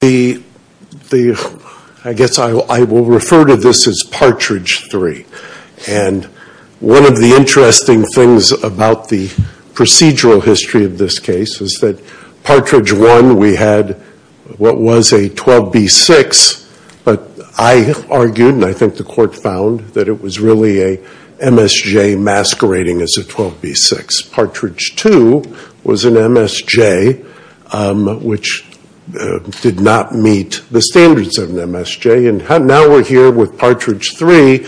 The, I guess I will refer to this as Partridge 3, and one of the interesting things about the procedural history of this case is that Partridge 1, we had what was a 12B6, but I argued and I think the court found that it was really a MSJ masquerading as a 12B6. Partridge 2 was an MSJ, which did not meet the standards of an MSJ, and now we're here with Partridge 3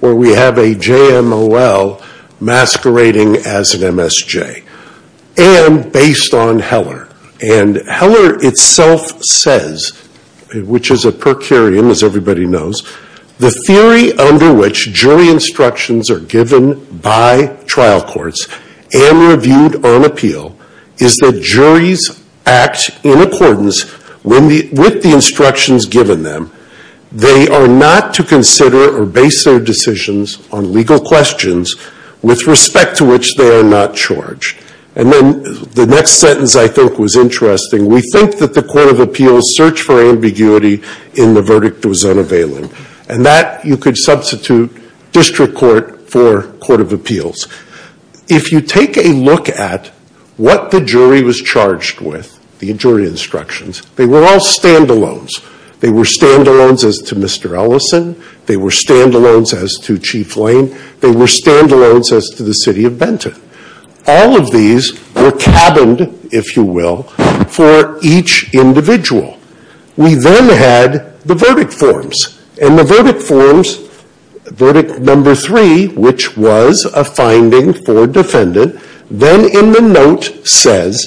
where we have a JMOL masquerading as an MSJ, and based on Heller. And Heller itself says, which is a per curiam as everybody knows, the theory under which jury instructions are given by trial courts and reviewed on appeal is that juries act in accordance with the instructions given them. They are not to consider or base their decisions on legal questions with respect to which they are not charged. And then the next sentence I think was interesting, we think that the court of appeals searched for ambiguity in the verdict that was unavailable. And that you could substitute district court for court of appeals. If you take a look at what the jury was charged with, the jury instructions, they were all stand-alones. They were stand-alones as to Mr. Ellison, they were stand-alones as to Chief Lane, they were stand-alones as to the City of Benton. All of these were cabined, if you will, for each individual. We then had the verdict forms. And the verdict forms, verdict number three, which was a finding for defendant, then in the note says,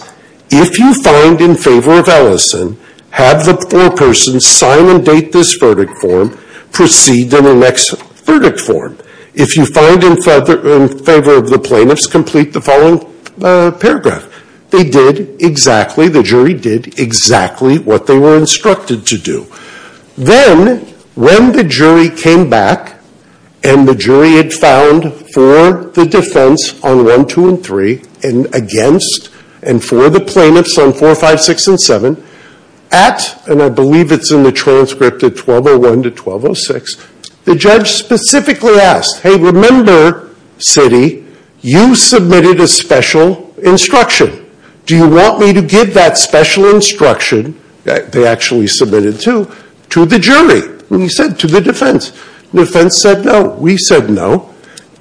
if you find in favor of Ellison, have the foreperson sign and date this verdict form, proceed to the next verdict form. If you find in favor of the plaintiffs, complete the following paragraph. They did exactly, the jury did exactly what they were instructed to do. Then, when the jury came back, and the jury had found for the defense on one, two, and three, and against, and for the plaintiffs on four, five, six, and seven, at, and I believe it's in the transcript of 1201-1206, the judge specifically asked, hey, remember, city, you submitted a special instruction. Do you want me to give that special instruction, they actually submitted two, to the jury? He said, to the defense. The defense said no. We said no.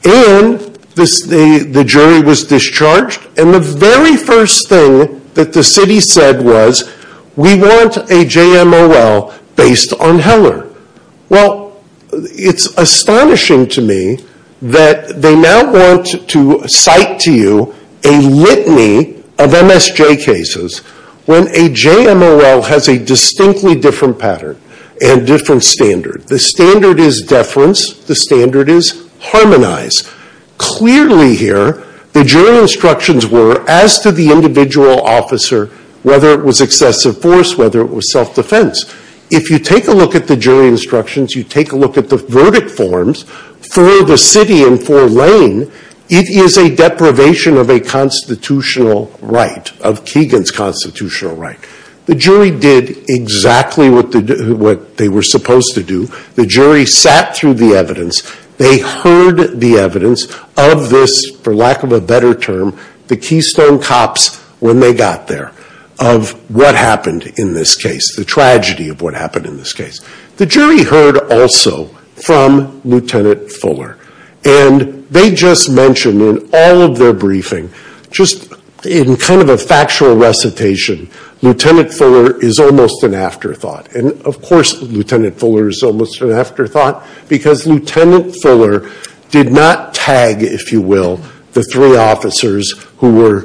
And the jury was discharged, and the very first thing that the city said was, we want a JMOL based on Heller. Well, it's astonishing to me that they now want to cite to you a litany of MSJ cases when a JMOL has a distinctly different pattern and different standard. The standard is deference. The standard is harmonized. Clearly here, the jury instructions were, as to the individual officer, whether it was excessive force, whether it was self-defense. If you take a look at the jury instructions, you take a look at the verdict forms, for the city and for Lane, it is a deprivation of a constitutional right, of Keegan's constitutional right. The jury did exactly what they were supposed to do. The jury sat through the evidence. They heard the evidence of this, for lack of a better term, the keystone cops, when they got there, of what happened in this case, the tragedy of what happened in this case. The jury heard also from Lt. Fuller, and they just mentioned in all of their briefing, just in kind of a factual recitation, Lt. Fuller is almost an afterthought. And of course, Lt. Fuller is almost an afterthought, because Lt. Fuller did not tag, if you will, the three officers who were,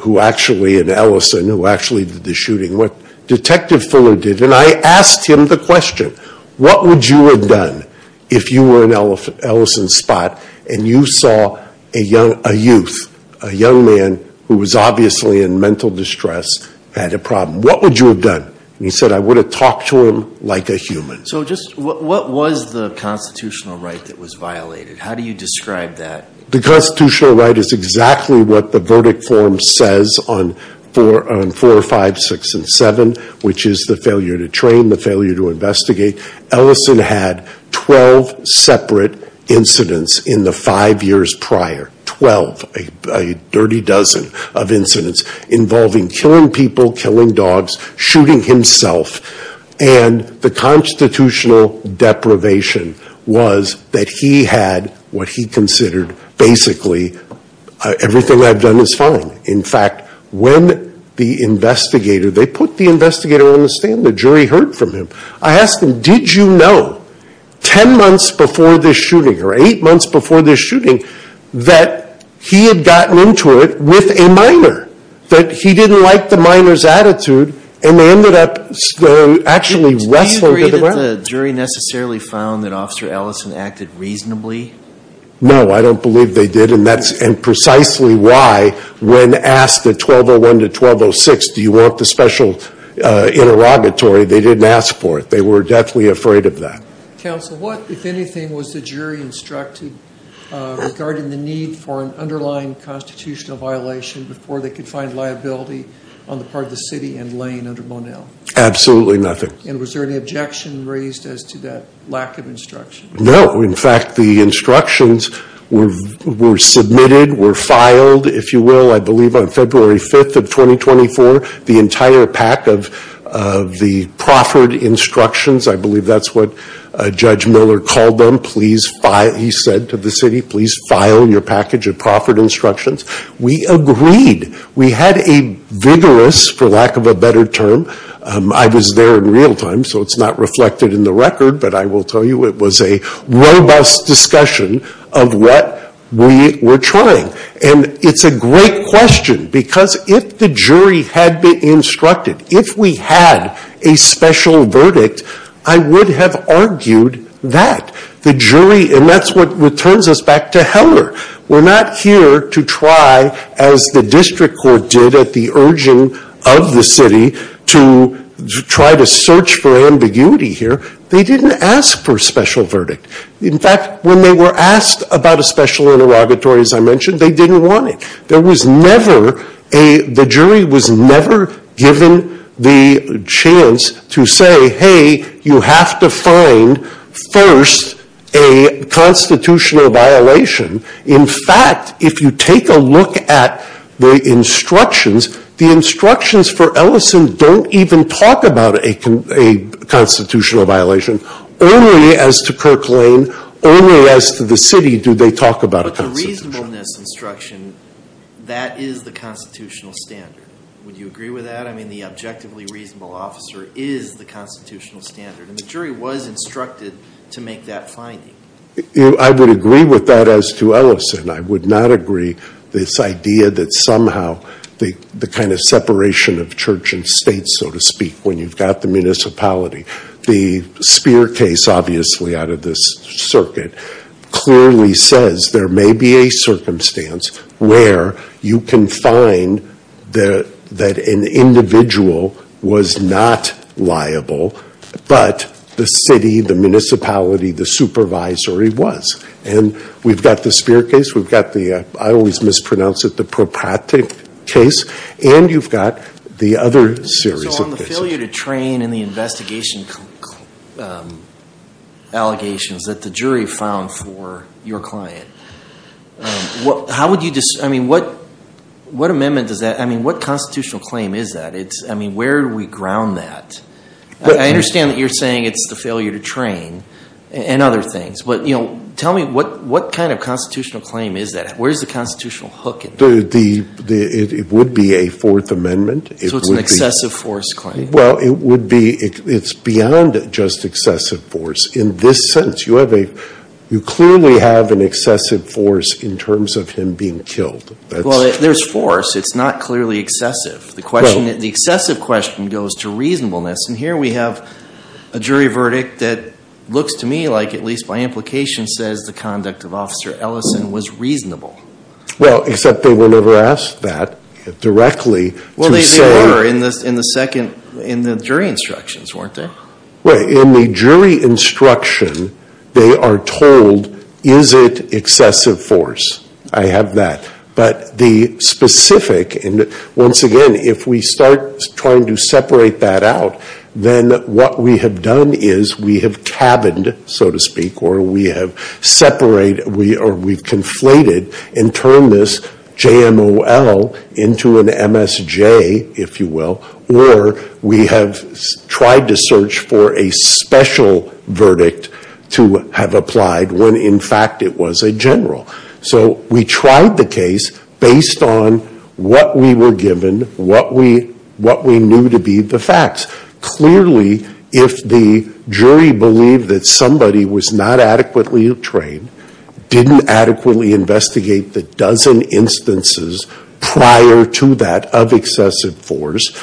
who actually, and Ellison, who actually did the shooting, what Detective Fuller did, and I asked him the question, what would you have done, if you were in Ellison's spot, and you saw a youth, a young man, who was obviously in mental distress, had a problem. What would you have done? And he said, I would have talked to him like a human. So just, what was the constitutional right that was violated? How do you describe that? The constitutional right is exactly what the verdict form says on 4, 5, 6, and 7, which is the failure to train, the failure to investigate. Ellison had 12 separate incidents in the five years prior, 12, a dirty dozen of incidents, involving killing people, killing dogs, shooting himself, and the constitutional deprivation was that he had what he considered the right to do. Basically, everything I've done is fine. In fact, when the investigator, they put the investigator on the stand, the jury heard from him. I asked him, did you know, ten months before this shooting, or eight months before this shooting, that he had gotten into it with a minor, that he didn't like the minor's attitude, and they ended up actually wrestling to the ground. Do you agree that the jury necessarily found that Officer Ellison acted reasonably? No, I don't believe they did, and that's precisely why, when asked at 1201 to 1206, do you want the special interrogatory, they didn't ask for it. They were deathly afraid of that. Counsel, what, if anything, was the jury instructed regarding the need for an underlying constitutional violation before they could find liability on the part of the city and Lane under Monell? Absolutely nothing. And was there any objection raised as to that lack of instruction? No. In fact, the instructions were submitted, were filed, if you will, I believe on February 5th of 2024. The entire pack of the proffered instructions, I believe that's what Judge Miller called them, he said to the city, please file your package of proffered instructions. We agreed. We had a vigorous, for lack of a better term, I was there in real time, so it's not reflected in the record, but I will tell you it was a robust discussion of what we were trying. And it's a great question, because if the jury had been instructed, if we had a special verdict, I would have argued that. The jury, and that's what returns us back to Heller. We're not here to try, as the district court did at the urging of the city, to try to search for ambiguity here. They didn't ask for a special verdict. In fact, when they were asked about a special interrogatory, as I mentioned, they didn't want it. There was never a, the jury was never given the chance to say, hey, you have to find first a constitutional violation. In fact, if you take a look at the instructions, the instructions for Ellison don't even talk about a constitutional violation. Only as to Kirk Lane, only as to the city do they talk about a constitutional violation. But the reasonableness instruction, that is the constitutional standard. Would you agree with that? I mean, the objectively reasonable officer is the constitutional standard, and the jury was instructed to make that finding. I would agree with that as to Ellison. I would not agree this idea that somehow the kind of separation of church and state, so to speak, when you've got the municipality. The Spear case, obviously, out of this circuit, clearly says there may be a circumstance where you can find that an individual was not liable, but the city, the municipality, the supervisory was. And we've got the Spear case, we've got the, I always mispronounce it, the Propratic case, and you've got the other series of cases. So on the failure to train and the investigation allegations that the jury found for your client, how would you, I mean, what amendment does that, I mean, what constitutional claim is that? It's, I mean, where do we ground that? I understand that you're saying it's the failure to train and other things, but, you know, tell me what kind of constitutional claim is that? Where's the constitutional hook in that? It would be a Fourth Amendment. So it's an excessive force claim? Well, it would be, it's beyond just excessive force. In this sentence, you have a, you clearly have an excessive force in terms of him being killed. Well, there's force. It's not clearly excessive. The question, the excessive question goes to reasonableness. And here we have a jury verdict that looks to me like, at least by implication, says the conduct of Officer Ellison was reasonable. Well, except they were never asked that directly to say... Well, they were in the second, in the jury instructions, weren't they? Right. In the jury instruction, they are told, is it excessive force? I have that. But the question is, how do we get that out? Then what we have done is we have cabined, so to speak, or we have separated, or we've conflated and turned this JMOL into an MSJ, if you will, or we have tried to search for a special verdict to have applied when, in fact, it was a general. So we tried the case based on what we were given, what we knew to be the facts. Clearly, if the jury believed that somebody was not adequately trained, didn't adequately investigate the dozen instances prior to that of excessive force,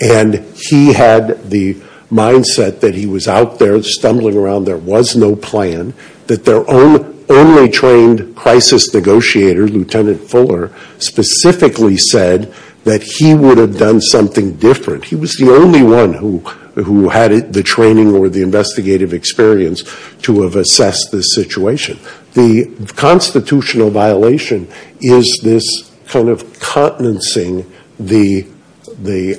and he had the mindset that he was out there stumbling around, there was no plan, that their only trained crisis negotiator, Lieutenant Fuller, specifically said that he would have done something different. He was the only one who had the training or the investigative experience to have assessed this situation. The constitutional violation is this kind of continencing the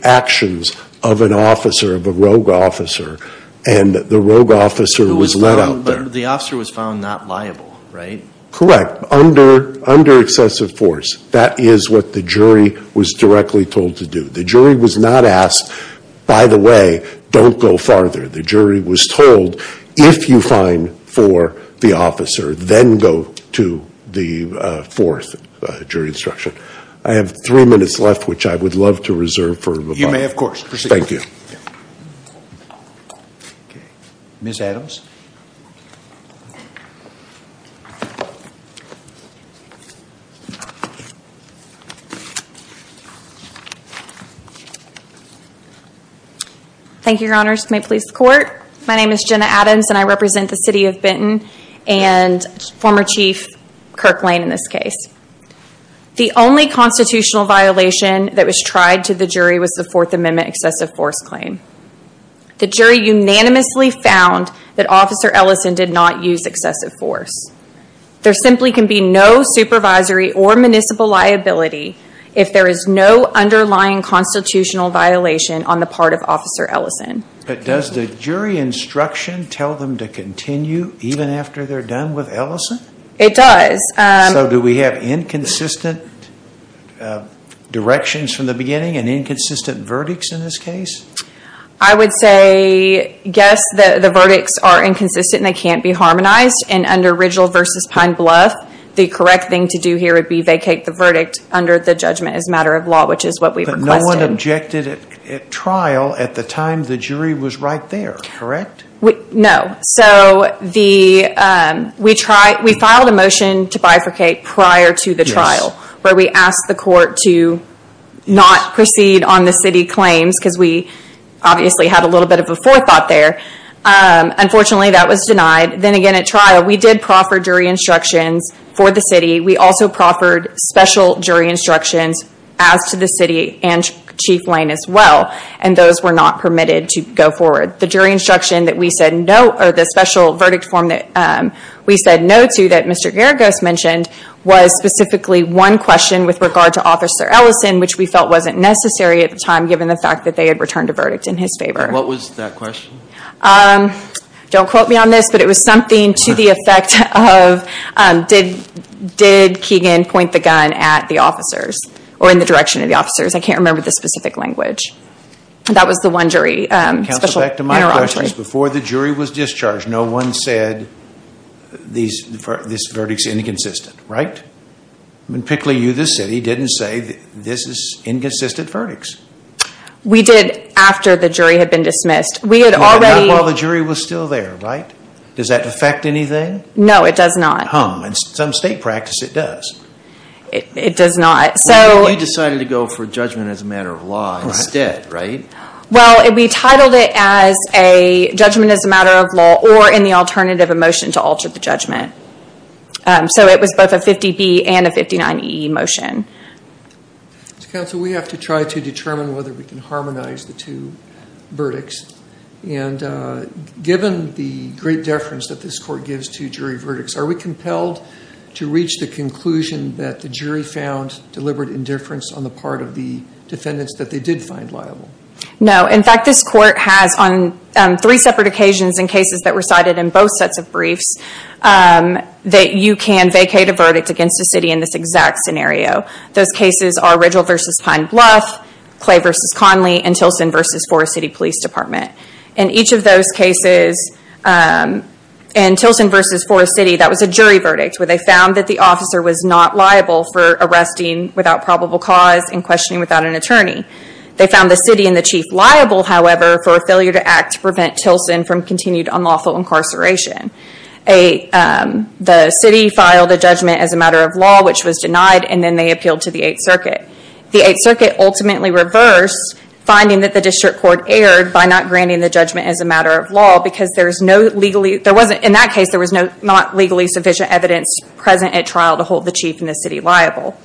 actions of an officer, of a rogue officer, and the rogue officer was let out there. The officer was found not liable, right? Correct. Under excessive force. That is what the jury was directly told to do. The jury was not asked, by the way, don't go farther. The jury was told, if you find for the officer, then go to the fourth jury instruction. I have three minutes left, which I would love to reserve for rebuttal. You may, of course. Proceed. Thank you. Ms. Adams. Thank you, your honors. May it please the court. My name is Jenna Adams, and I represent the city of Benton, and former chief Kirk Lane, in this case. The only constitutional violation that was tried to the jury was the Fourth Amendment excessive force claim. The jury unanimously found that Officer Ellison did not use excessive force. There simply can be no supervisory or municipal liability if there is no underlying constitutional violation on the part of Officer Ellison. Does the jury instruction tell them to continue even after they're done with Ellison? It does. So, do we have inconsistent directions from the beginning, and inconsistent verdicts in this case? I would say, yes, the verdicts are inconsistent and they can't be harmonized, and under Rigel v. Pine Bluff, the correct thing to do here would be vacate the verdict under the judgment as a matter of law, which is what we requested. But no one objected at trial at the time the jury was right there, correct? No. So, we filed a motion to bifurcate prior to the trial, where we asked the court to not proceed on the city claims, because we obviously had a little bit of a forethought there. Unfortunately, that was denied. Then again, at trial, we did proffer jury instructions for the city. We also proffered special jury instructions as to the city and Chief Lane as well, and those were not permitted to go forward. The jury instruction that we said no, or the special verdict form that we said no to that Mr. Geragos mentioned, was specifically one question with regard to Officer Ellison, which we felt wasn't necessary at the time, given the fact that they had returned a verdict in his favor. What was that question? Don't quote me on this, but it was something to the effect of, did Keegan point the gun at the officers, or in the direction of the officers? I can't remember the specific language. That was the one jury special interrogatory. Counsel, back to my question. Before the jury was discharged, no one said this verdict is inconsistent, right? Pickley, you, the city, didn't say this is inconsistent verdicts. We did after the jury had been dismissed. Not while the jury was still there, right? Does that affect anything? No, it does not. It doesn't hum. In some state practice, it does. It does not. You decided to go for judgment as a matter of law instead, right? Well, we titled it as a judgment as a matter of law, or in the alternative, a motion to alter the judgment. It was both a 50B and a 59E motion. Counsel, we have to try to determine whether we can harmonize the two verdicts. Given the great deference that this court gives to jury verdicts, are we compelled to reach the conclusion that the jury found deliberate indifference on the part of the defendants that they did find liable? No. In fact, this court has on three separate occasions in cases that recited in both sets of briefs that you can vacate a verdict against a city in this exact scenario. Those cases are Ridgell v. Pine Bluff, Clay v. Conley, and Tilson v. Forest City Police Department. In each of those cases, in Tilson v. Forest City, that was a jury verdict where they found that the officer was not liable for arresting without probable cause and questioning without an attorney. They found the city and the chief liable, however, for a failure to act to prevent Tilson from continued unlawful incarceration. The city filed a judgment as a matter of law, which was denied, and then they appealed to the Eighth Circuit. The Eighth Circuit ultimately reversed, finding that the district court erred by not granting the judgment as a matter of law because in that case, there was not legally sufficient evidence present at trial to hold the chief and the city liable.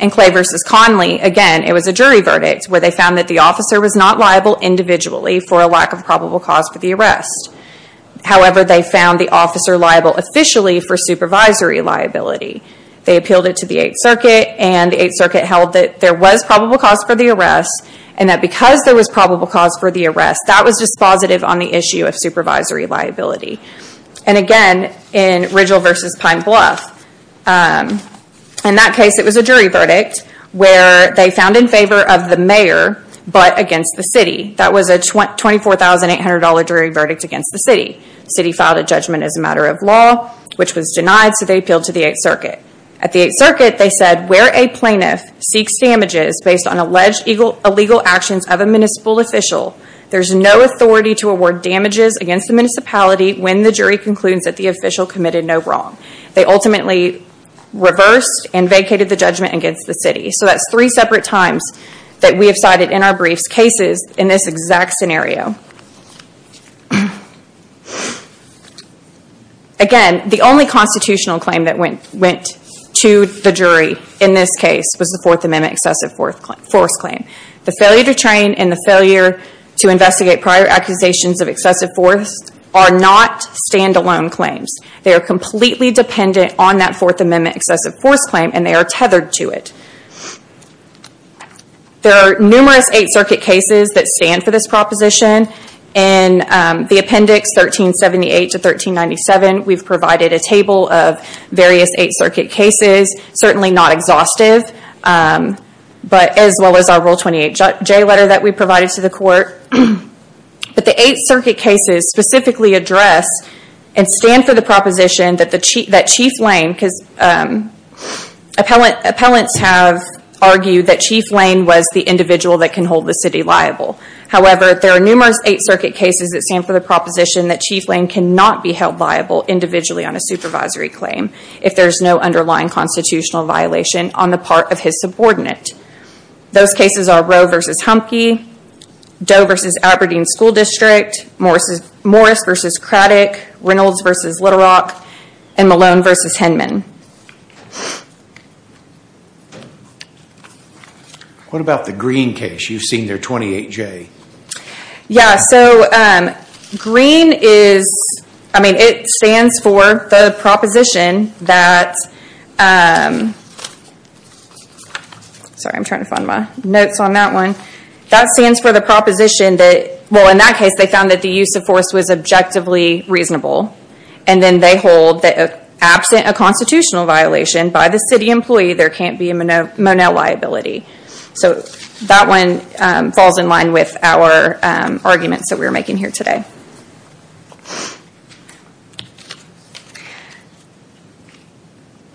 In Clay v. Conley, again, it was a jury verdict where they found that the officer was not liable individually for a lack of probable cause for the arrest. However, they found the officer liable officially for supervisory liability. They appealed it to the Eighth Circuit, and the Eighth Circuit held that there was probable cause for the arrest, and that because there was probable cause for the arrest, that was dispositive on the issue of supervisory liability. Again, in Rigel v. Pine Bluff, in that case, it was a jury verdict where they found in favor of the mayor, but against the city. That was a $24,800 jury verdict against the city. City filed a judgment as a matter of law, which was denied, so they appealed to the Eighth Circuit. At the Eighth Circuit, they said, where a plaintiff seeks damages based on alleged illegal actions of a municipal official, there's no authority to award damages against the municipality when the jury concludes that the official committed no wrong. They ultimately reversed and vacated the judgment against the city. That's three separate times that we have cited in our briefs cases in this exact scenario. Again, the only constitutional claim that went to the jury in this case was the Fourth Amendment excessive force claim. The failure to train and the failure to investigate prior accusations of excessive force are not stand-alone claims. They are completely dependent on that Fourth Amendment excessive force claim, and they are tethered to it. There are numerous Eighth Circuit cases that stand for this proposition. In the appendix 1378 to 1397, we've provided a table of various Eighth Circuit cases, certainly not exhaustive, as well as our Rule 28J letter that we provided to the court. The Eighth Circuit cases specifically address and stand for the proposition that Chief Lane, because appellants have argued that Chief Lane was the individual that can hold the city liable. However, there are numerous Eighth Circuit cases that stand for the proposition that Chief Lane cannot be held liable individually on a supervisory claim if there's no underlying constitutional violation on the part of his subordinate. Those cases are Rowe v. Humphrey, Doe v. Aberdeen School District, Morris v. Craddock, Reynolds v. Little Rock, and Malone v. Hinman. What about the Green case? You've seen their 28J. Yeah, so Green is, I mean it stands for the proposition that, sorry I'm trying to find my notes on that one. That stands for the proposition that, well in that case they found that the use of force was objectively reasonable, and then they hold that absent a constitutional violation by the city employee, there can't be a Monell liability. So that one falls in line with our arguments that we're making here today.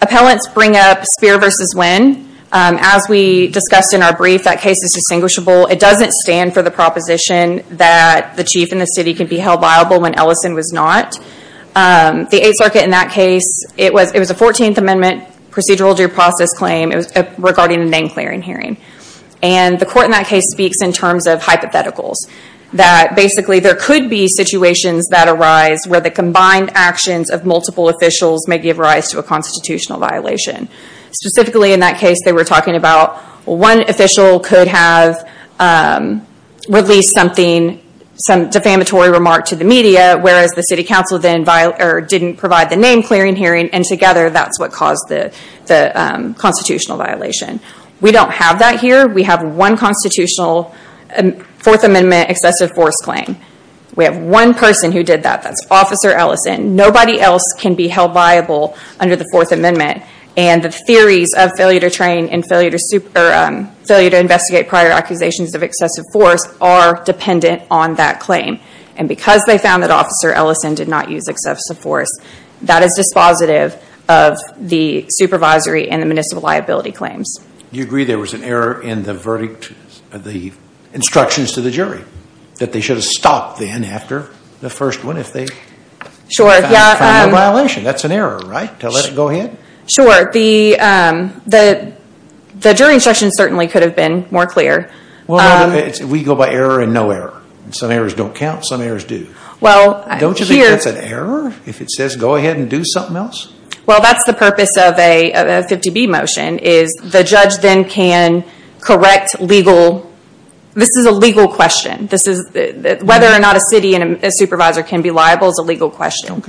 Appellants bring up Spear v. Winn. As we discussed in our brief, that case is distinguishable. It doesn't stand for the proposition that the chief and the city can be held liable when Ellison was not. The Eighth Circuit in that case, it was a 14th Amendment procedural due process claim, it was regarding a name clearing hearing. And the court in that case speaks in terms of hypotheticals. That basically there could be situations that arise where the combined actions of multiple officials may give rise to a constitutional violation. Specifically in that case they were talking about one official could have released some defamatory remark to the media, whereas the city council didn't provide the name clearing hearing, and together that's what caused the constitutional violation. We don't have that here. We have one constitutional Fourth Amendment excessive force claim. We have one person who did that, that's Officer Ellison. Nobody else can be held liable under the Fourth Amendment. And the theories of failure to train and failure to investigate prior accusations of excessive force are dependent on that claim. And because they found that Officer Ellison did not use excessive force, that is dispositive of the supervisory and the municipal liability claims. You agree there was an error in the instructions to the jury, that they should have stopped then after the first one if they found a violation. That's an error, right? To let it go ahead? Sure. The jury instructions certainly could have been more clear. We go by error and no error. Some errors don't count, some errors do. Don't you think that's an error if it says go ahead and do something else? Well, that's the purpose of a 50B motion is the judge then can correct legal, this is a legal question. Whether or not a city and a supervisor can be liable is a legal question.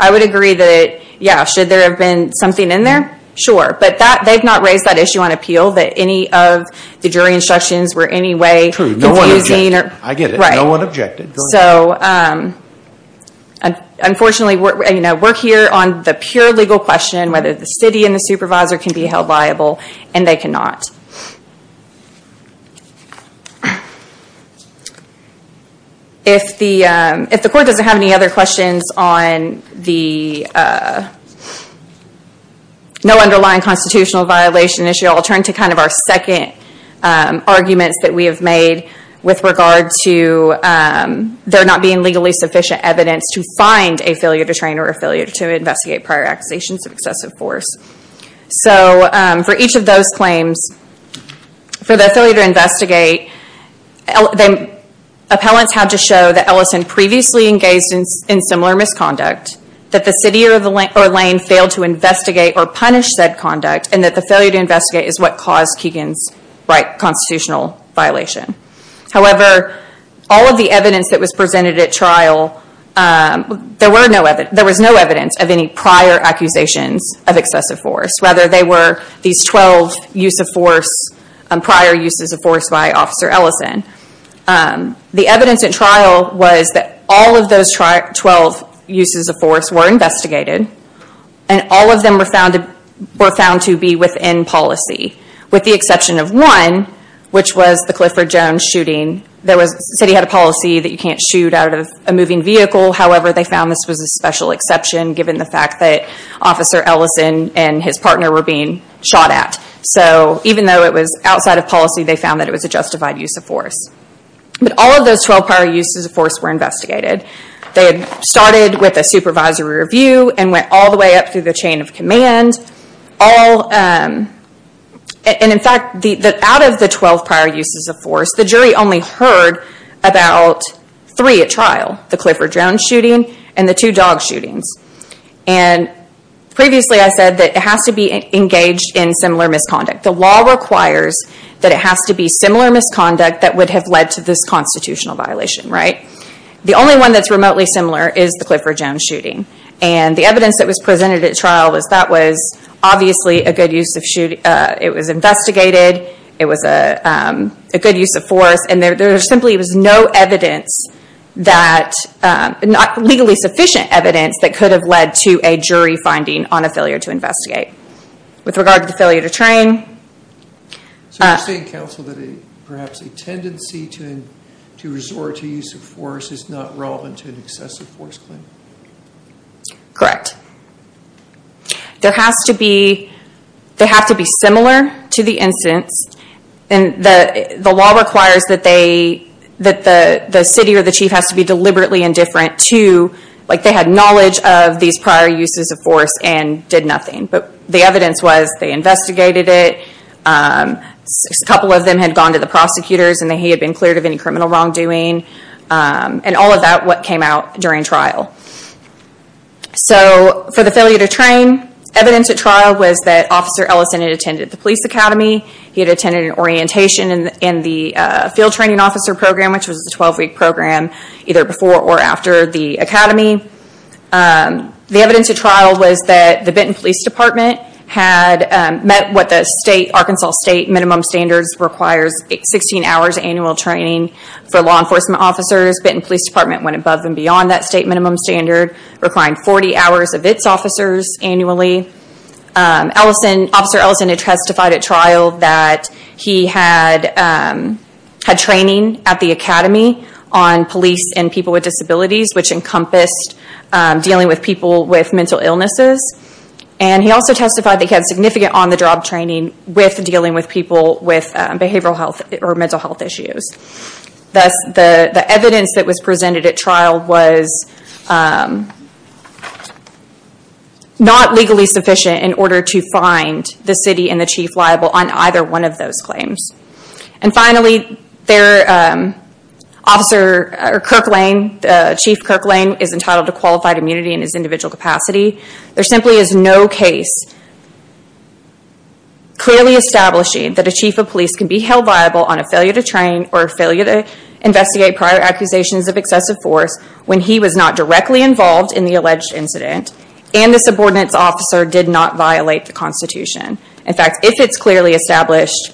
I would agree that, yeah, should there have been something in there? Sure. But they've not raised that issue on appeal that any of the jury instructions were in any way confusing. True. No one objected. I get it. No one objected. So unfortunately, we're here on the pure legal question whether the city and the supervisor can be held liable, and they cannot. If the court doesn't have any other questions on the no underlying constitutional violation issue, I'll turn to kind of our second arguments that we have made with regard to there not being legally sufficient evidence to find a failure to train or a failure to investigate prior accusations of excessive force. So for each of those claims, for the failure to investigate, appellants had to show that Ellison previously engaged in similar misconduct, that the city or lane failed to investigate or punish said conduct, and that the failure to investigate is what caused Keegan's constitutional violation. However, all of the evidence that was presented at trial, there was no evidence of any prior accusations of excessive force. Rather, they were these 12 use of force, prior uses of force by Officer Ellison. The evidence at trial was that all of those 12 uses of force were investigated, and all of them were found to be within policy, with the exception of one, which was the Clifford Jones shooting. The city had a policy that you can't shoot out of a moving vehicle. However, they found this was a special exception, given the fact that Officer Ellison and his partner were being shot at. So even though it was outside of policy, they found that it was a justified use of force. But all of those 12 prior uses of force were investigated. They had started with a supervisory review and went all the way up through the chain of command. In fact, out of the 12 prior uses of force, the jury only heard about three at trial, the Clifford Jones shooting and the two dog shootings. Previously, I said that it has to be engaged in similar misconduct. The law requires that it has to be similar misconduct that would have led to this constitutional violation. The only one that's remotely similar is the Clifford Jones shooting. The evidence that was presented at trial was that was obviously a good use of shooting. It was investigated. It was a good use of force. There simply was no evidence that, legally sufficient evidence that could have led to a jury finding on a failure to investigate. With regard to the failure to train... So you're saying, counsel, that perhaps a tendency to resort to use of force is not relevant to an excessive force claim? Correct. There has to be... They have to be similar to the incidents. The law requires that the city or the chief has to be deliberately indifferent to... They had knowledge of these prior uses of force and did nothing. The evidence was they investigated it. A couple of them had gone to the prosecutors and he had been cleared of any criminal wrongdoing. All of that, what came out during trial. For the failure to train, evidence at trial was that Officer Ellison had attended the Benton Police Academy. He had attended an orientation in the field training officer program, which was a 12-week program, either before or after the academy. The evidence at trial was that the Benton Police Department had met what the Arkansas state minimum standards requires, 16 hours annual training for law enforcement officers. Benton Police Department went above and beyond that state minimum standard, requiring 40 hours of its officers annually. Officer Ellison had testified at trial that he had training at the academy on police and people with disabilities, which encompassed dealing with people with mental illnesses. He also testified that he had significant on-the-job training with dealing with people with behavioral health or mental health issues. Thus, the evidence that was presented at trial was not legally sufficient in order to find the city and the chief liable on either one of those claims. Finally, Chief Kirk Lane is entitled to qualified immunity in his individual capacity. There simply is no case clearly establishing that a chief of police can be held liable on a failure to train or a failure to investigate prior accusations of excessive force when he was not directly involved in the alleged incident and the subordinates officer did not violate the Constitution. In fact, if it's clearly established,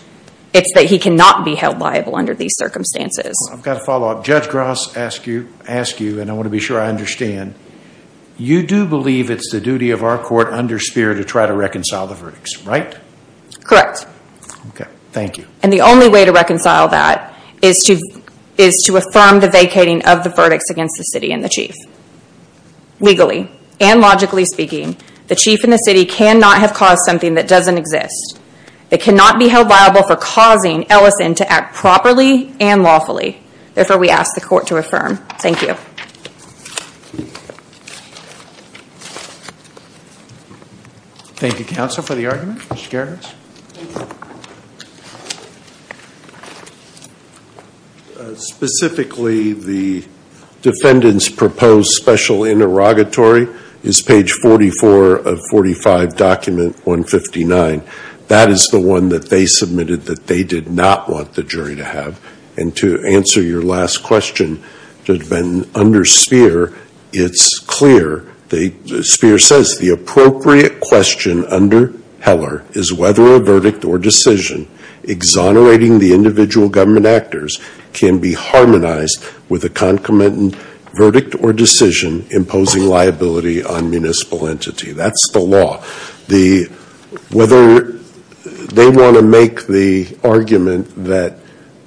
it's that he cannot be held liable under these circumstances. I've got a follow-up. Judge Gross asked you, and I want to be sure I understand, you do believe it's the duty of our court under SPHERE to try to reconcile the verdicts, right? Correct. Okay, thank you. And the only way to reconcile that is to affirm the vacating of the verdicts against the city and the chief. Legally and logically speaking, the chief and the city cannot have caused something that doesn't exist. They cannot be held liable for causing Ellison to act properly and lawfully. Therefore, we ask the court to affirm. Thank you. Thank you, counsel, for the argument. Mr. Geragos? Specifically, the defendant's proposed special interrogatory is page 44 of 45, document 159. That is the one that they submitted that they did not want the jury to have. And to answer your last question, under SPHERE, it's clear. SPHERE says, the appropriate question under moderating the individual government actors can be harmonized with a concomitant verdict or decision imposing liability on municipal entity. That's the law. Whether they want to make the argument that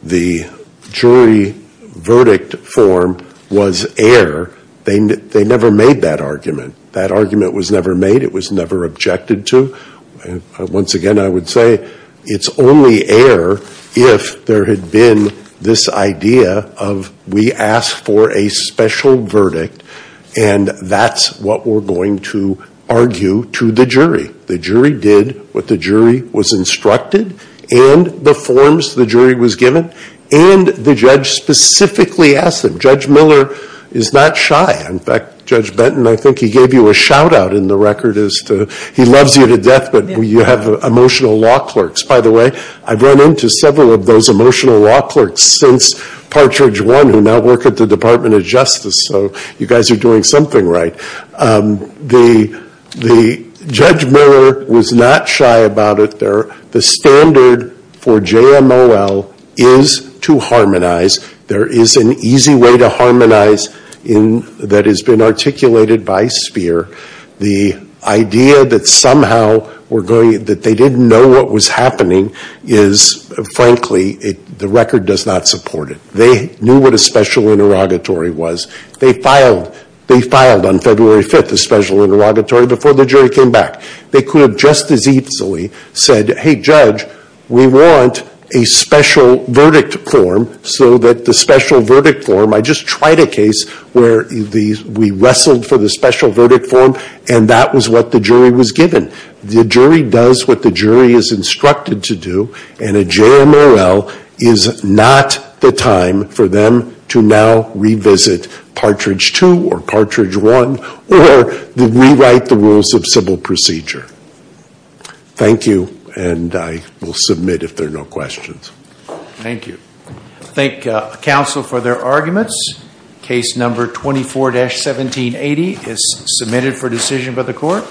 the jury verdict form was air, they never made that argument. That argument was never made. It was never objected to. Once again, I would say it's only air if there had been this idea of we asked for a special verdict and that's what we're going to argue to the jury. The jury did what the jury was instructed and the forms the jury was given and the judge specifically asked them. Judge Miller is not shy. In fact, Judge Benton, I think he gave you a shout out in the record as to he loves you to death but you have emotional law clerks. By the way, I've run into several of those emotional law clerks since Partridge 1 who now work at the Department of Justice. So you guys are doing something right. Judge Miller was not shy about it. The standard for JMOL is to harmonize. There is an easy way to harmonize that has been articulated by SPHERE. The idea that somehow they didn't know what was happening is frankly the record does not support it. They knew what a special interrogatory was. They filed on February 5th a special interrogatory before the jury came back. They could have just as easily said, hey judge, we want a special verdict form so that the special verdict form, I just tried a case where we wrestled for the special verdict form and that was what the jury was given. The jury does what the jury is instructed to do and a JMOL is not the time for them to now revisit Partridge 2 or Partridge 1 or rewrite the rules of civil procedure. Thank you and I will submit if there are no questions. Thank you. I thank counsel for their arguments. Case number 24-1780 is submitted for decision by the court.